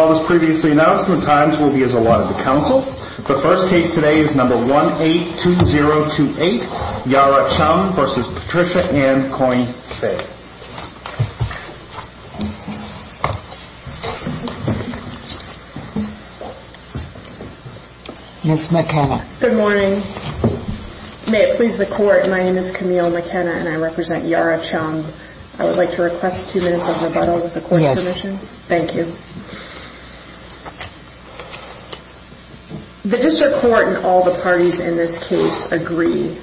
All those previously announced, the times will be as allotted to counsel. The first case today is number 182028, Yara Chum v. Patricia Ann Coyne-Fague. Ms. McKenna. Good morning. May it please the Court, my name is Camille McKenna and I represent Yara Chum. I would like to request two minutes of rebuttal with the Court's permission. Yes. Thank you. The District Court and all the parties in this case agree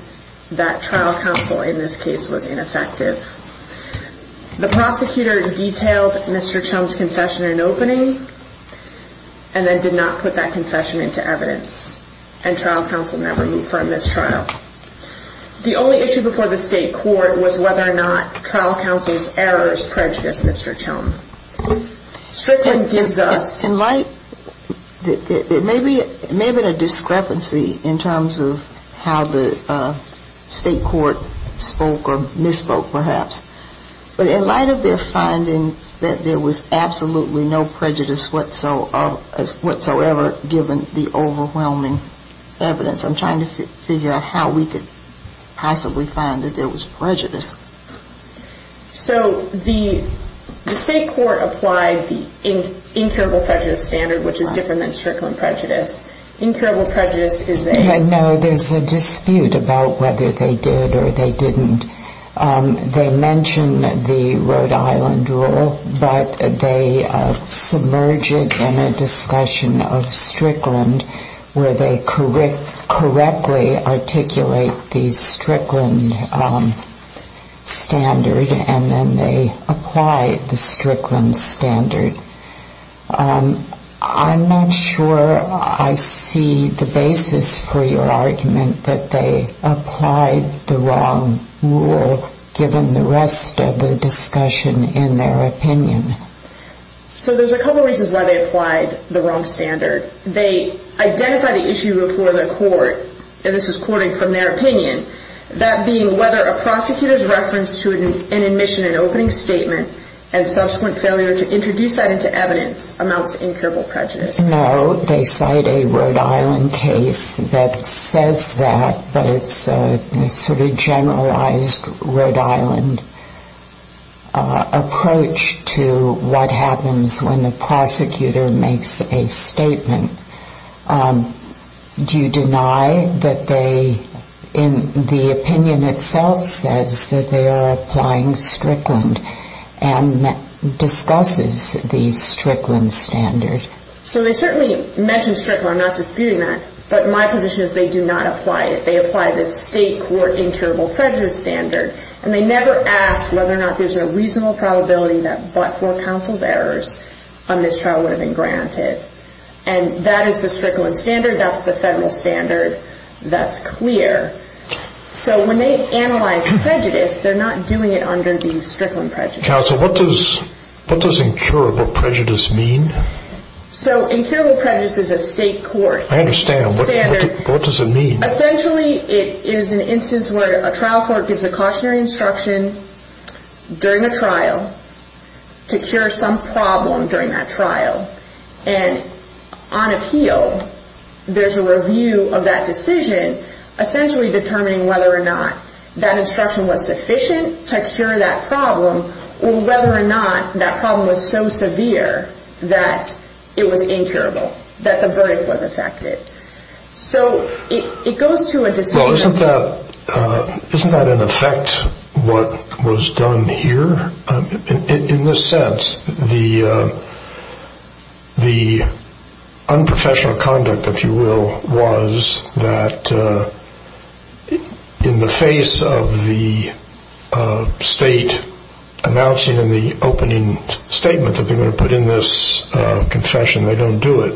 that trial counsel in this case was ineffective. The prosecutor detailed Mr. Chum's confession in opening and then did not put that confession into evidence. And trial counsel never moved for a mistrial. The only issue before the State Court was whether or not trial counsel's errors prejudiced Mr. Chum. Strickland gives us In light, it may have been a discrepancy in terms of how the State Court spoke or misspoke perhaps. But in light of their finding that there was absolutely no prejudice whatsoever given the overwhelming evidence, I'm trying to figure out how we could possibly find that there was prejudice. So the State Court applied the incurable prejudice standard, which is different than Strickland prejudice. Incurable prejudice is a No, there's a dispute about whether they did or they didn't. They mentioned the Rhode Island rule, but they submerged it in a discussion of Strickland where they correctly articulate the Strickland standard and then they applied the Strickland standard. I'm not sure I see the basis for your argument that they applied the wrong rule given the rest of the discussion in their opinion. So there's a couple reasons why they applied the wrong standard. They identified the issue before the court, and this is quoting from their opinion, that being whether a prosecutor's reference to an admission and opening statement and subsequent failure to introduce that into evidence amounts to incurable prejudice. No, they cite a Rhode Island case that says that, but it's a sort of generalized Rhode Island approach to what happens when a prosecutor makes a statement. Do you deny that they, in the opinion itself, says that they are applying Strickland and discusses the Strickland standard? So they certainly mention Strickland. I'm not disputing that, but my position is they do not apply it. They apply the State Court incurable prejudice standard, and they never ask whether or not there's a reasonable probability that but for counsel's errors on this trial would have been granted. And that is the Strickland standard. That's the federal standard. That's clear. So when they analyze prejudice, they're not doing it under the Strickland prejudice. Counsel, what does incurable prejudice mean? So incurable prejudice is a State Court standard. I understand. What does it mean? Essentially, it is an instance where a trial court gives a cautionary instruction during a trial to cure some problem during that trial. And on appeal, there's a review of that decision, essentially determining whether or not that instruction was sufficient to cure that problem or whether or not that problem was so severe that it was incurable, that the verdict was affected. So it goes to a decision. Well, isn't that in effect what was done here? In this sense, the unprofessional conduct, if you will, was that in the face of the State announcing in the opening statement that they're going to put in this confession, they don't do it.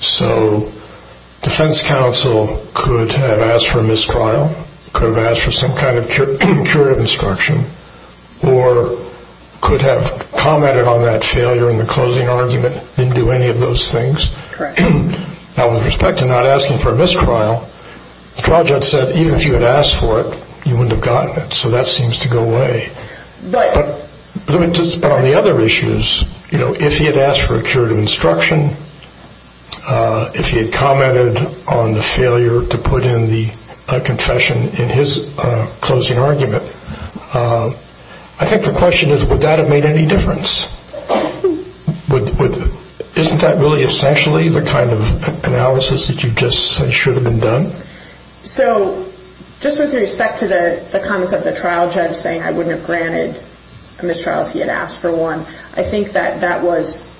So defense counsel could have asked for a mistrial, could have asked for some kind of curative instruction, or could have commented on that failure in the closing argument, didn't do any of those things. Correct. Now, with respect to not asking for a mistrial, the trial judge said even if you had asked for it, you wouldn't have gotten it. So that seems to go away. Right. But on the other issues, if he had asked for a curative instruction, if he had commented on the failure to put in the confession in his closing argument, I think the question is would that have made any difference? Isn't that really essentially the kind of analysis that you just say should have been done? So just with respect to the comments of the trial judge saying I wouldn't have granted a mistrial if he had asked for one, I think that that was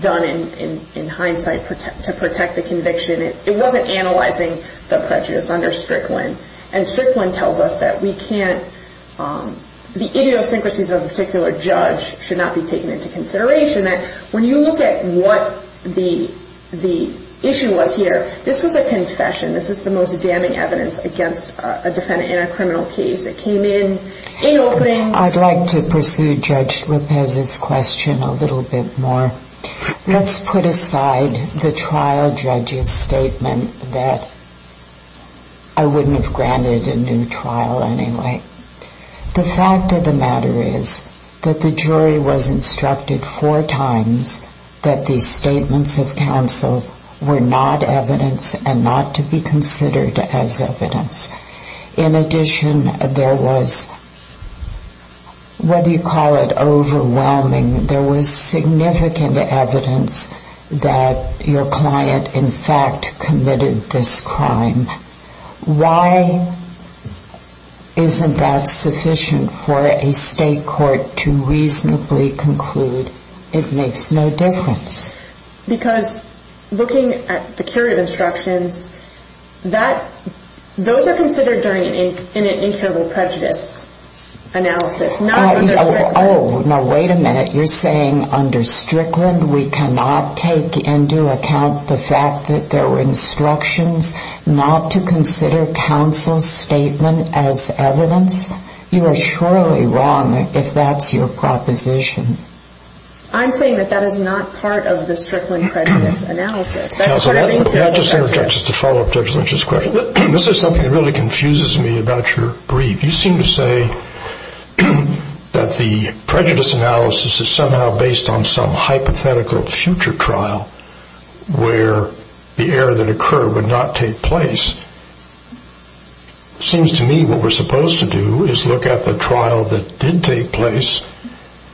done in hindsight to protect the conviction. It wasn't analyzing the prejudice under Strickland. And Strickland tells us that we can't – the idiosyncrasies of a particular judge should not be taken into consideration, that when you look at what the issue was here, this was a confession. This is the most damning evidence against a defendant in a criminal case. It came in in Oakland. I'd like to pursue Judge Lopez's question a little bit more. Let's put aside the trial judge's statement that I wouldn't have granted a new trial anyway. The fact of the matter is that the jury was instructed four times that these statements of counsel were not evidence and not to be considered as evidence. In addition, there was what you call it overwhelming, there was significant evidence that your client in fact committed this crime. Why isn't that sufficient for a state court to reasonably conclude that it makes no difference? Because looking at the curative instructions, those are considered during an incurable prejudice analysis, not under Strickland. Oh, now wait a minute. You're saying under Strickland we cannot take into account the fact that there were instructions not to consider counsel's statement as evidence? You are surely wrong if that's your proposition. I'm saying that that is not part of the Strickland prejudice analysis. Counsel, just to follow up Judge Lynch's question, this is something that really confuses me about your brief. You seem to say that the prejudice analysis is somehow based on some hypothetical future trial where the error that occurred would not take place. It seems to me what we're supposed to do is look at the trial that did take place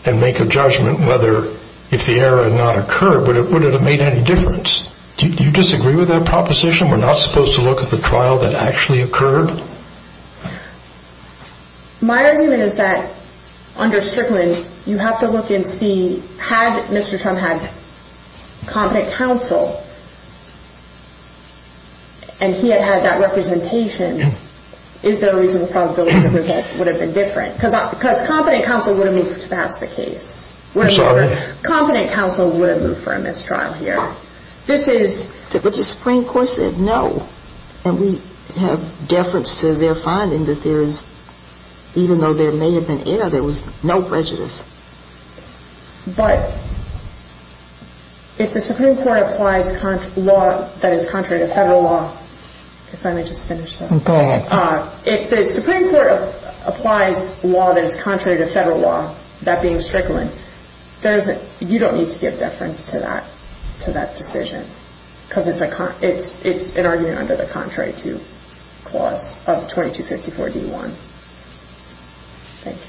and make a judgment whether if the error had not occurred would it have made any difference. Do you disagree with that proposition? We're not supposed to look at the trial that actually occurred? My argument is that under Strickland you have to look and see, had Mr. Trump had competent counsel and he had had that representation, is there a reasonable probability that the result would have been different? Because competent counsel would have moved to pass the case. I'm sorry? Competent counsel would have moved for a mistrial here. But the Supreme Court said no, and we have deference to their finding that there is, even though there may have been error, there was no prejudice. But if the Supreme Court applies law that is contrary to federal law, if I may just finish that. Go ahead. If the Supreme Court applies law that is contrary to federal law, that being Strickland, you don't need to give deference to that decision because it's an argument under the contrary to clause of 2254D1. Thank you.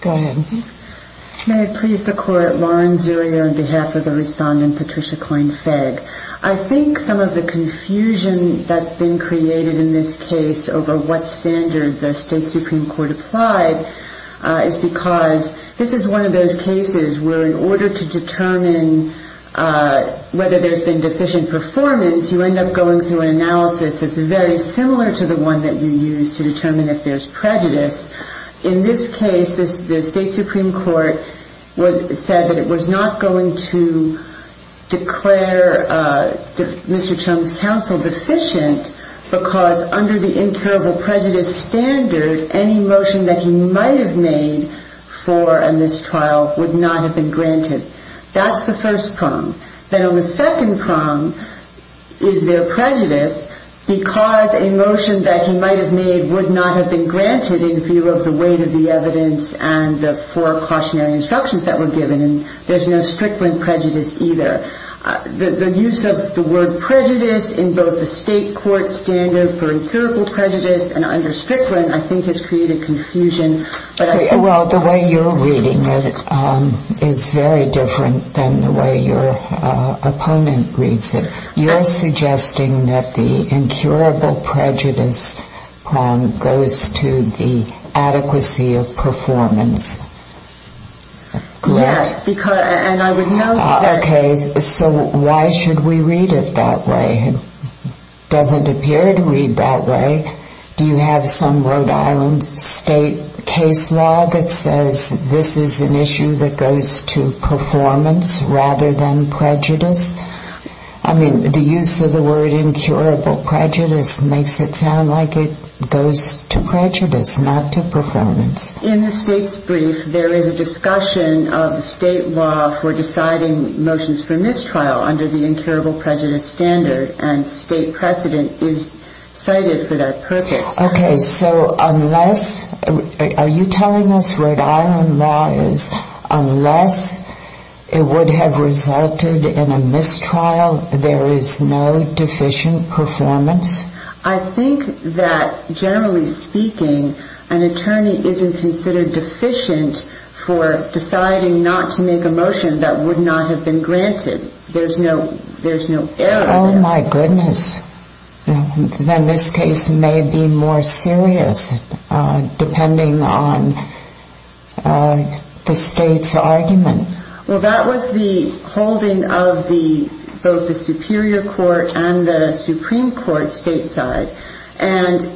Go ahead. May it please the Court, Lauren Zuri on behalf of the respondent Patricia Coyne-Fegg. I think some of the confusion that's been created in this case over what standard the State Supreme Court applied is because this is one of those cases where in order to determine whether there's been deficient performance, you end up going through an analysis that's very similar to the one that you use to determine if there's prejudice. In this case, the State Supreme Court said that it was not going to declare Mr. Chung's counsel deficient because under the incurable prejudice standard, any motion that he might have made for a mistrial would not have been granted. That's the first prong. Then on the second prong is there prejudice because a motion that he might have made would not have been granted in view of the weight of the evidence and the four cautionary instructions that were given. There's no Strickland prejudice either. The use of the word prejudice in both the State court standard for incurable prejudice and under Strickland, I think has created confusion. Well, the way you're reading it is very different than the way your opponent reads it. You're suggesting that the incurable prejudice prong goes to the adequacy of performance. Yes. Okay. So why should we read it that way? It doesn't appear to read that way. Do you have some Rhode Island State case law that says this is an issue that goes to performance rather than prejudice? I mean, the use of the word incurable prejudice makes it sound like it goes to prejudice, not to performance. In the State's brief, there is a discussion of the State law for deciding motions for mistrial under the incurable prejudice standard, and State precedent is cited for that purpose. Okay. So are you telling us Rhode Island law is unless it would have resulted in a mistrial, there is no deficient performance? I think that generally speaking, an attorney isn't considered deficient for deciding not to make a motion that would not have been granted. There's no error there. Oh, my goodness. Then this case may be more serious, depending on the State's argument. Well, that was the holding of both the Superior Court and the Supreme Court stateside. And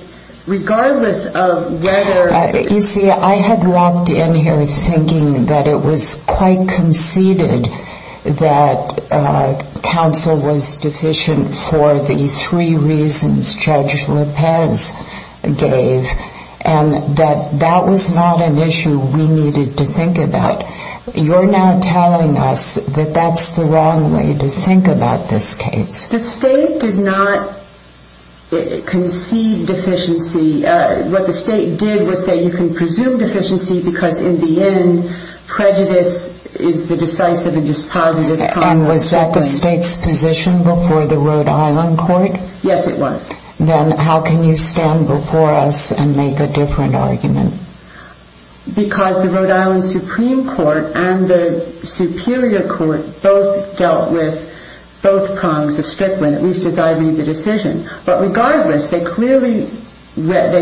regardless of whether... You see, I had walked in here thinking that it was quite conceded that counsel was deficient for the three reasons Judge Lopez gave, and that that was not an issue we needed to think about. You're now telling us that that's the wrong way to think about this case. The State did not concede deficiency. What the State did was say you can presume deficiency because, in the end, prejudice is the decisive and just positive... And was that the State's position before the Rhode Island court? Yes, it was. Then how can you stand before us and make a different argument? Because the Rhode Island Supreme Court and the Superior Court both dealt with both prongs of Strickland, at least as I made the decision. But regardless, they clearly applied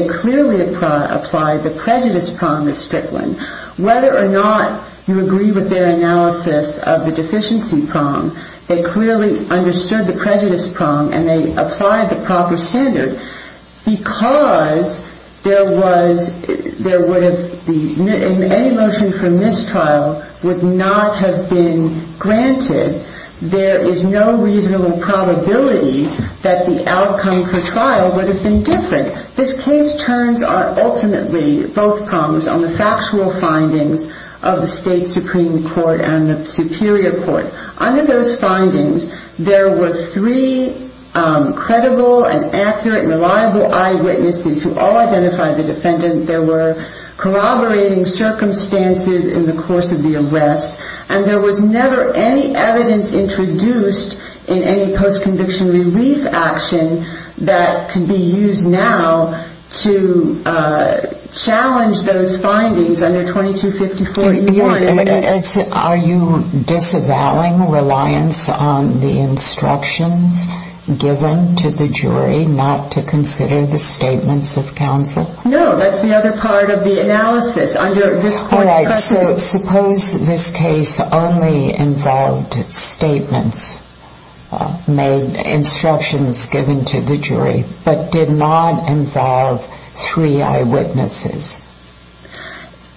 the prejudice prong of Strickland. Whether or not you agree with their analysis of the deficiency prong, they clearly understood the prejudice prong and they applied the proper standard. Because any motion for mistrial would not have been granted, there is no reasonable probability that the outcome for trial would have been different. This case turns ultimately, both prongs, on the factual findings of the State Supreme Court and the Superior Court. Under those findings, there were three credible and accurate and reliable eyewitnesses who all identified the defendant. There were corroborating circumstances in the course of the arrest. And there was never any evidence introduced in any post-conviction relief action that can be used now to challenge those findings under 2254E1. Are you disavowing reliance on the instructions given to the jury not to consider the statements of counsel? No, that's the other part of the analysis. All right, so suppose this case only involved statements, instructions given to the jury, but did not involve three eyewitnesses.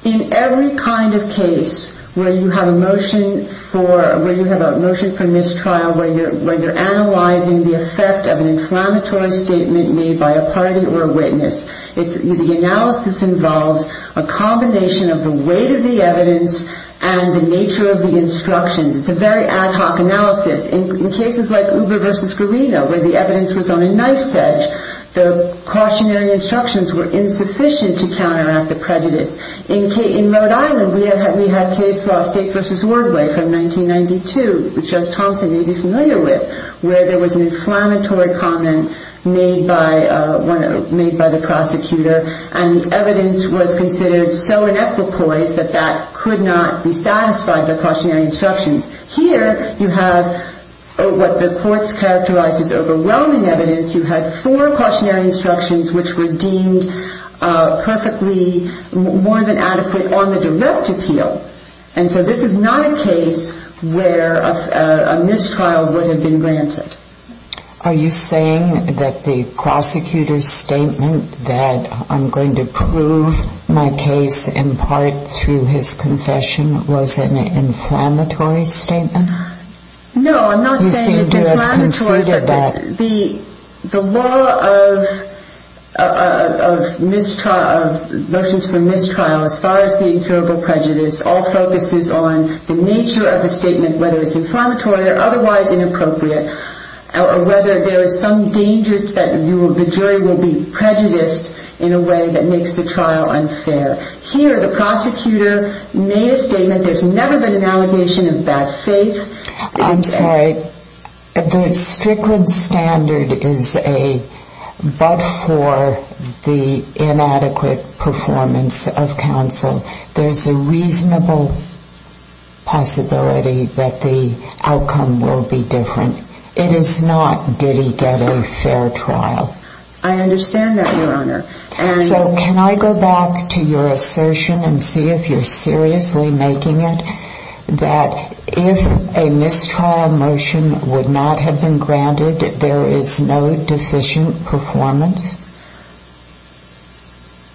In every kind of case where you have a motion for mistrial, where you're analyzing the effect of an inflammatory statement made by a party or a witness, the analysis involves a combination of the weight of the evidence and the nature of the instructions. It's a very ad hoc analysis. In cases like Uber v. Guarino, where the evidence was on a knife's edge, the cautionary instructions were insufficient to counteract the prejudice. In Rhode Island, we had case law State v. Ordway from 1992, which Judge Thompson may be familiar with, where there was an inflammatory comment made by the prosecutor, and the evidence was considered so inequipoise that that could not be satisfied by cautionary instructions. Here, you have what the courts characterize as overwhelming evidence. You had four cautionary instructions which were deemed perfectly more than adequate on the direct appeal. And so this is not a case where a mistrial would have been granted. Are you saying that the prosecutor's statement that I'm going to prove my case in part through his confession was an inflammatory statement? No, I'm not saying it's inflammatory. You seem to have conceded that. The law of motions for mistrial, as far as the incurable prejudice, all focuses on the nature of the statement, whether it's inflammatory or otherwise inappropriate, or whether there is some danger that the jury will be prejudiced in a way that makes the trial unfair. Here, the prosecutor made a statement. There's never been an allegation of bad faith. I'm sorry. The Strickland standard is a but for the inadequate performance of counsel. There's a reasonable possibility that the outcome will be different. It is not, did he get a fair trial. I understand that, Your Honor. So can I go back to your assertion and see if you're seriously making it that if a mistrial motion would not have been granted, there is no deficient performance.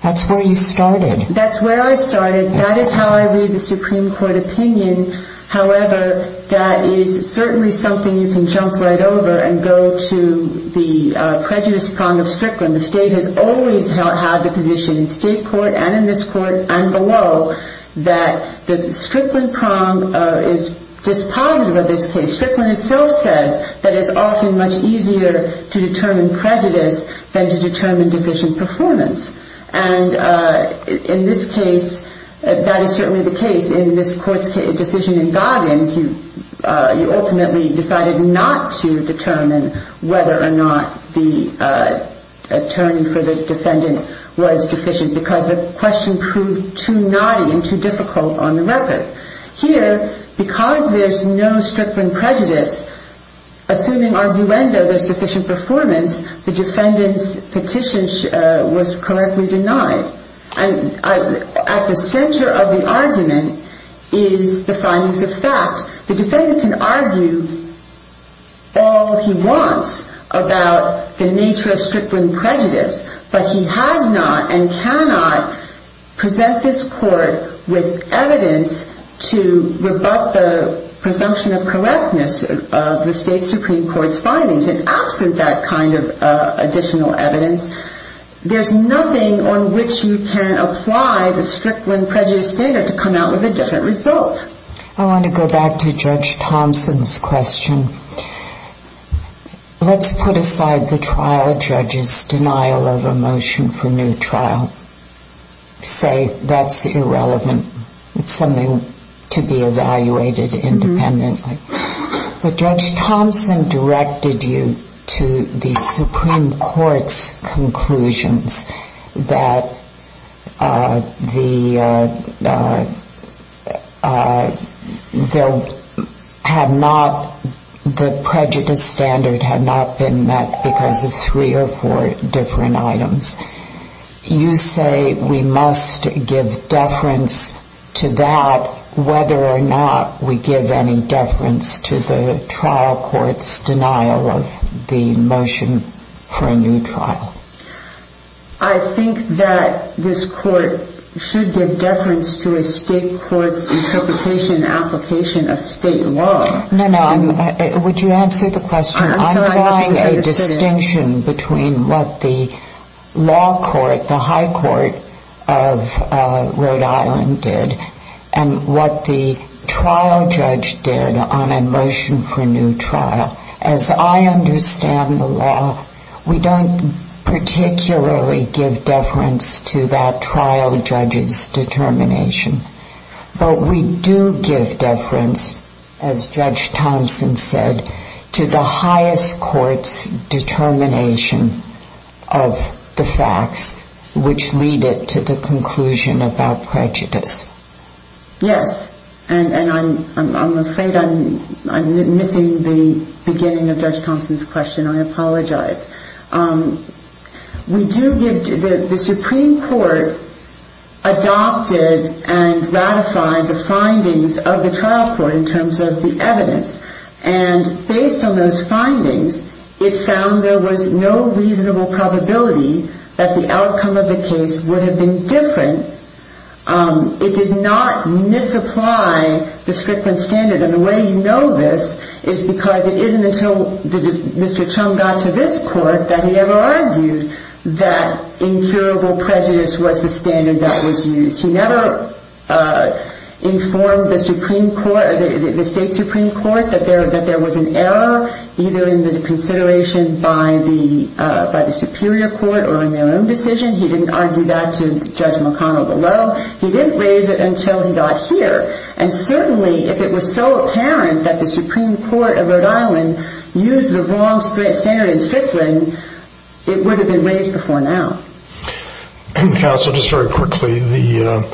That's where you started. That's where I started. That is how I read the Supreme Court opinion. However, that is certainly something you can jump right over and go to the prejudice prong of Strickland. The state has always had the position in state court and in this court and below that the Strickland prong is dispositive of this case. Strickland itself says that it's often much easier to determine prejudice than to determine deficient performance. And in this case, that is certainly the case. In this court's decision in Goggins, you ultimately decided not to determine whether or not the attorney for the defendant was deficient because the question proved too knotty and too difficult on the record. Here, because there's no Strickland prejudice, assuming arguendo there's sufficient performance, the defendant's petition was correctly denied. And at the center of the argument is the findings of fact. The defendant can argue all he wants about the nature of Strickland prejudice, but he has not and cannot present this court with evidence to rebut the presumption of correctness of the state Supreme Court's findings. And absent that kind of additional evidence, there's nothing on which you can apply the Strickland prejudice standard to come out with a different result. I want to go back to Judge Thompson's question. Let's put aside the trial judge's denial of a motion for new trial. Say that's irrelevant. It's something to be evaluated independently. But Judge Thompson directed you to the Supreme Court's conclusions that the prejudice standard had not been met because of three or four different items. You say we must give deference to that whether or not we give any deference to the trial court's denial of the motion for a new trial. I think that this court should give deference to a state court's interpretation and application of state law. No, no. Would you answer the question? I'm trying a distinction between what the law court, the high court of Rhode Island did and what the trial judge did on a motion for a new trial. As I understand the law, we don't particularly give deference to that trial judge's determination. But we do give deference, as Judge Thompson said, to the highest court's determination of the facts which lead it to the conclusion about prejudice. Yes. And I'm afraid I'm missing the beginning of Judge Thompson's question. I apologize. We do give the Supreme Court adopted and ratified the findings of the trial court in terms of the evidence. And based on those findings, it found there was no reasonable probability that the outcome of the case would have been different. It did not misapply the Strickland standard. And the way you know this is because it isn't until Mr. Chum got to this court that he ever argued that incurable prejudice was the standard that was used. He never informed the Supreme Court or the state Supreme Court that there was an error either in the consideration by the superior court or in their own decision. He didn't argue that to Judge McConnell below. He didn't raise it until he got here. And certainly if it was so apparent that the Supreme Court of Rhode Island used the wrong standard in Strickland, it would have been raised before now. Counsel, just very quickly, the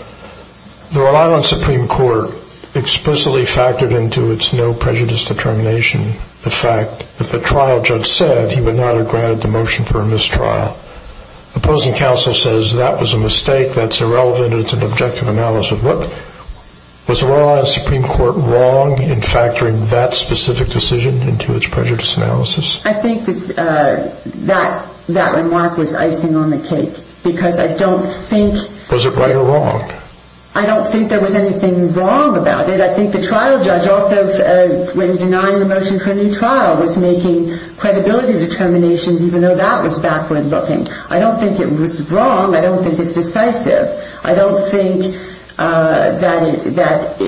Rhode Island Supreme Court explicitly factored into its no prejudice determination the fact that the trial judge said he would not have granted the motion for a mistrial. The opposing counsel says that was a mistake, that's irrelevant, and it's an objective analysis. Was the Rhode Island Supreme Court wrong in factoring that specific decision into its prejudice analysis? I think that remark was icing on the cake because I don't think... Was it right or wrong? I don't think there was anything wrong about it. But I think the trial judge also, when denying the motion for a new trial, was making credibility determinations even though that was backward looking. I don't think it was wrong. I don't think it's decisive. I don't think that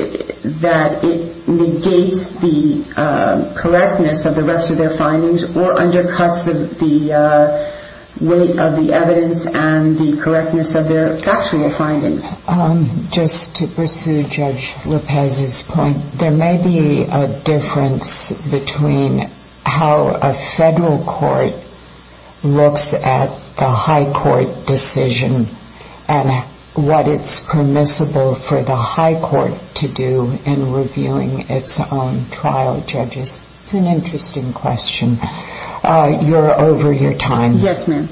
it negates the correctness of the rest of their findings or undercuts the weight of the evidence and the correctness of their factual findings. Just to pursue Judge Lopez's point, there may be a difference between how a federal court looks at the high court decision and what it's permissible for the high court to do in reviewing its own trial judges. It's an interesting question. You're over your time. Yes, ma'am.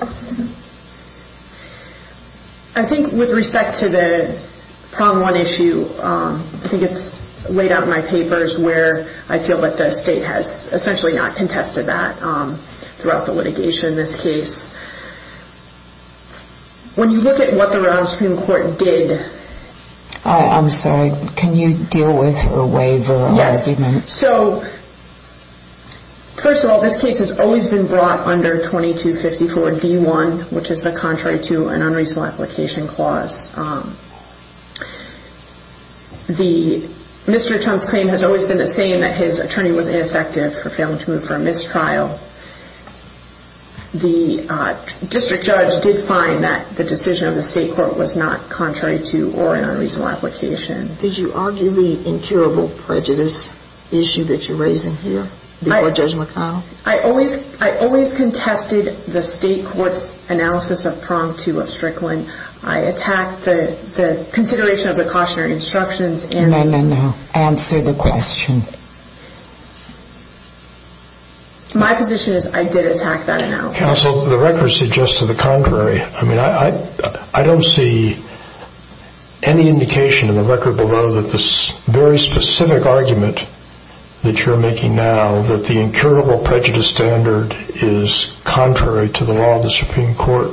Thank you. I think with respect to the problem one issue, I think it's laid out in my papers where I feel that the state has essentially not contested that throughout the litigation in this case. When you look at what the Rhode Island Supreme Court did... I'm sorry. Can you deal with her waiver? Yes. First of all, this case has always been brought under 2254 D1, which is the contrary to an unreasonable application clause. Mr. Trump's claim has always been the same, that his attorney was ineffective for failing to move for a missed trial. The district judge did find that the decision of the state court was not contrary to or an unreasonable application. Did you argue the incurable prejudice issue that you're raising here before Judge McConnell? I always contested the state court's analysis of prong two of Strickland. I attacked the consideration of the cautionary instructions and... No, no, no. Answer the question. My position is I did attack that analysis. Counsel, the record suggests to the contrary. I mean, I don't see any indication in the record below that this very specific argument that you're making now, that the incurable prejudice standard is contrary to the law of the Supreme Court,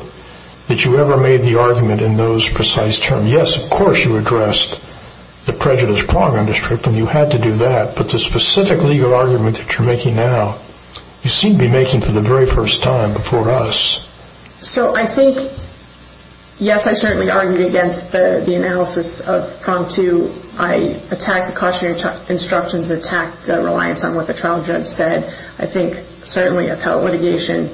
that you ever made the argument in those precise terms. Yes, of course you addressed the prejudice prong in Strickland. You had to do that. But the specific legal argument that you're making now, you seem to be making for the very first time before us. So I think, yes, I certainly argued against the analysis of prong two. I attacked the cautionary instructions, attacked the reliance on what the trial judge said. I think certainly appellate litigation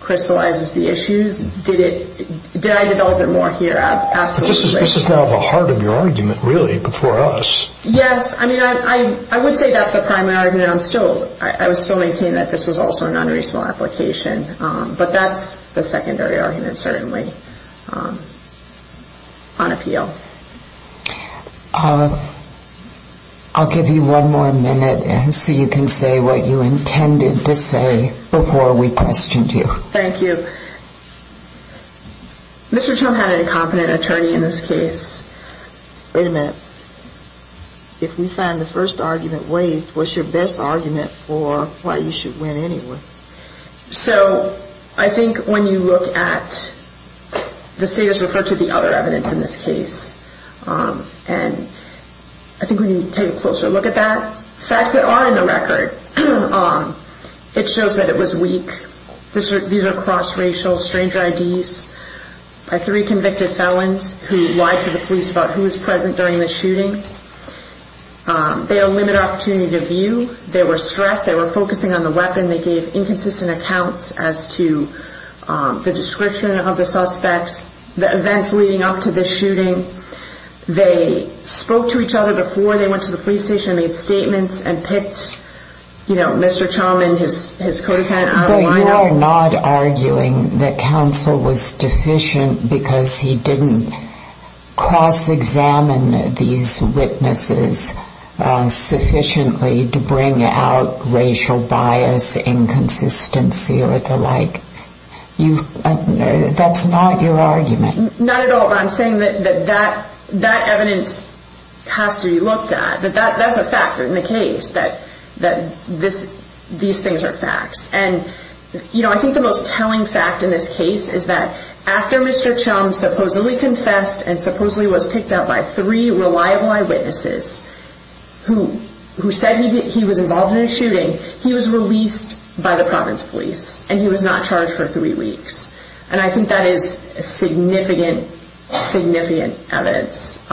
crystallizes the issues. Did I develop it more here? Absolutely. This is now the heart of your argument, really, before us. Yes. I mean, I would say that's the primary argument. I would still maintain that this was also a non-reasonable application. But that's the secondary argument, certainly, on appeal. I'll give you one more minute so you can say what you intended to say before we questioned you. Thank you. Mr. Trump had an incompetent attorney in this case. Wait a minute. If we find the first argument waived, what's your best argument for why you should win anyway? So I think when you look at the status referred to the other evidence in this case, and I think when you take a closer look at that, facts that are in the record, it shows that it was weak. These are cross-racial, stranger IDs by three convicted felons who lied to the police about who was present during the shooting. They had a limited opportunity to view. They were stressed. They were focusing on the weapon. They gave inconsistent accounts as to the description of the suspects, the events leading up to the shooting. They spoke to each other before they went to the police station. They had statements and picked Mr. Chauman, his co-defendant, out of the lineup. But you are not arguing that counsel was deficient because he didn't cross-examine these witnesses sufficiently to bring out racial bias, inconsistency, or the like. That's not your argument. Not at all. I'm saying that that evidence has to be looked at. That's a fact in the case, that these things are facts. And I think the most telling fact in this case is that after Mr. Chauman supposedly confessed and supposedly was picked out by three reliable eyewitnesses who said he was involved in a shooting, he was released by the province police, and he was not charged for three weeks. And I think that is significant, significant evidence.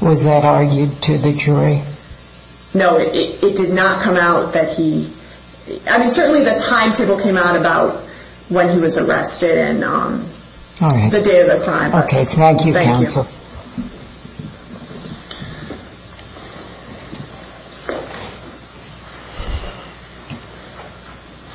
Was that argued to the jury? No, it did not come out that he... I mean, certainly the timetable came out about when he was arrested and the date of the crime. Thank you.